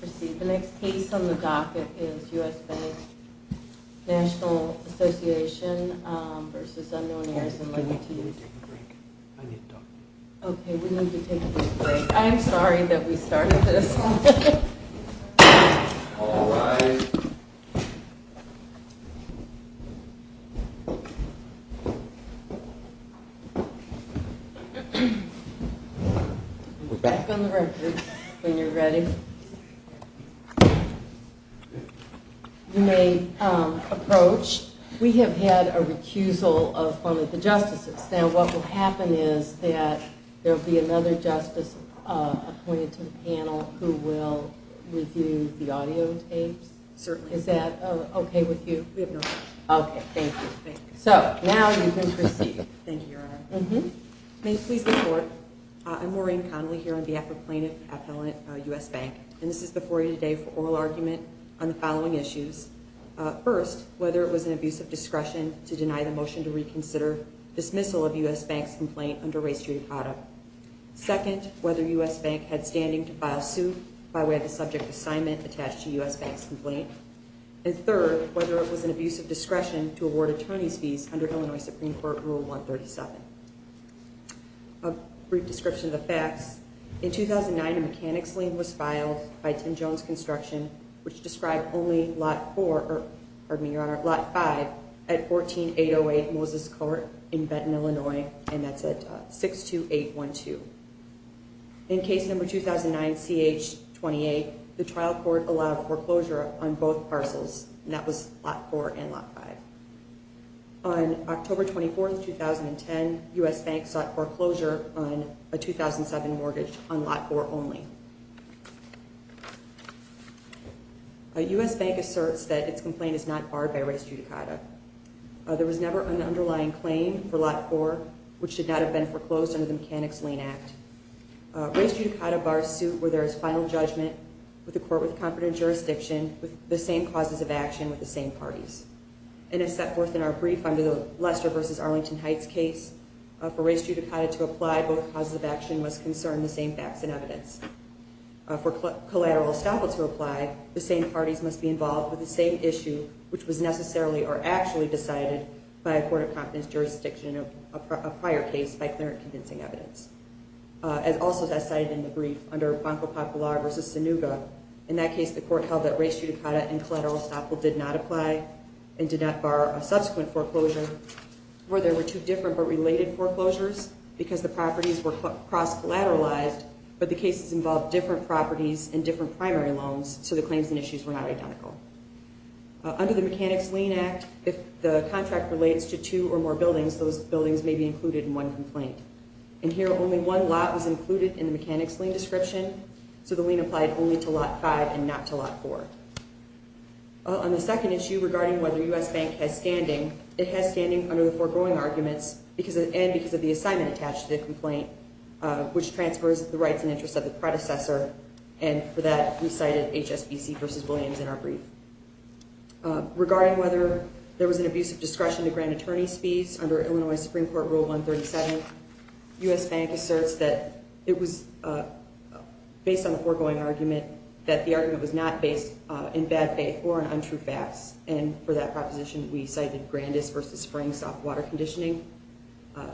Proceed, the next case on the docket is U.S. Bank Nat'l Assoc. v. Unknown Heirs, and I'd like to use... Oh, I need to take a break. I need to talk to you. Okay, we need to take a big break. I am sorry that we started this. Alright. We're back on the record when you're ready. You may approach. We have had a recusal of one of the justices. Now, what will happen is that there will be another justice appointed to the panel who will review the audio tapes. Certainly. Is that okay with you? We have no problem. Okay, thank you. So, now you can proceed. Thank you, Your Honor. You may please report. I'm Maureen Connolly here on behalf of plaintiff appellant U.S. Bank, and this is before you today for oral argument on the following issues. First, whether it was an abuse of discretion to deny the motion to reconsider dismissal of U.S. Bank's complaint under race judicata. Second, whether U.S. Bank had standing to file suit by way of the subject assignment attached to U.S. Bank's complaint. And third, whether it was an abuse of discretion to award attorney's fees under Illinois Supreme Court Rule 137. A brief description of the facts. In 2009, a mechanics lien was filed by 10 Jones Construction, which described only Lot 4, pardon me, Your Honor, Lot 5 at 14808 Moses Court in Benton, Illinois, and that's at 62812. In case number 2009, CH-28, the trial court allowed foreclosure on both parcels, and that was Lot 4 and Lot 5. On October 24, 2010, U.S. Bank sought foreclosure on a 2007 mortgage on Lot 4 only. U.S. Bank asserts that its complaint is not barred by race judicata. There was never an underlying claim for Lot 4, which should not have been foreclosed under the Mechanics Lien Act. Race judicata bars suit where there is final judgment with a court with confident jurisdiction with the same causes of action with the same parties. And as set forth in our brief under the Lester v. Arlington Heights case, for race judicata to apply, both causes of action must concern the same facts and evidence. For collateral estoppel to apply, the same parties must be involved with the same issue, which was necessarily or actually decided by a court of confidence jurisdiction in a prior case by clear and convincing evidence. As also as cited in the brief under Banco Popular v. Sanuga, in that case the court held that race judicata and collateral estoppel did not apply and did not bar a subsequent foreclosure, where there were two different but related foreclosures because the properties were cross-collateralized, but the cases involved different properties and different primary loans, so the claims and issues were not identical. Under the Mechanics Lien Act, if the contract relates to two or more buildings, those buildings may be included in one complaint. And here only one lot was included in the Mechanics Lien description, so the lien applied only to Lot 5 and not to Lot 4. On the second issue regarding whether U.S. Bank has standing, it has standing under the foregoing arguments and because of the assignment attached to the complaint, which transfers the rights and interests of the predecessor, and for that we cited HSBC v. Williams in our brief. Regarding whether there was an abuse of discretion to grant attorney's fees under Illinois Supreme Court Rule 137, U.S. Bank asserts that it was based on the foregoing argument that the argument was not based in bad faith or on untrue facts, and for that proposition we cited Grandis v. Springs soft water conditioning.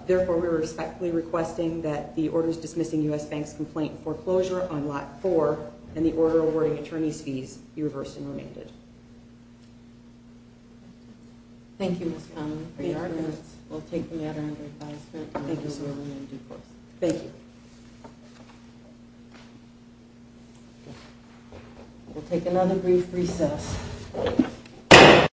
Therefore, we are respectfully requesting that the orders dismissing U.S. Bank's complaint foreclosure on Lot 4 and the order awarding attorney's fees be reversed and remanded. Thank you, Ms. Connelly, for your arguments. We'll take the matter under advisement. Thank you so much. Thank you. We'll take another brief recess.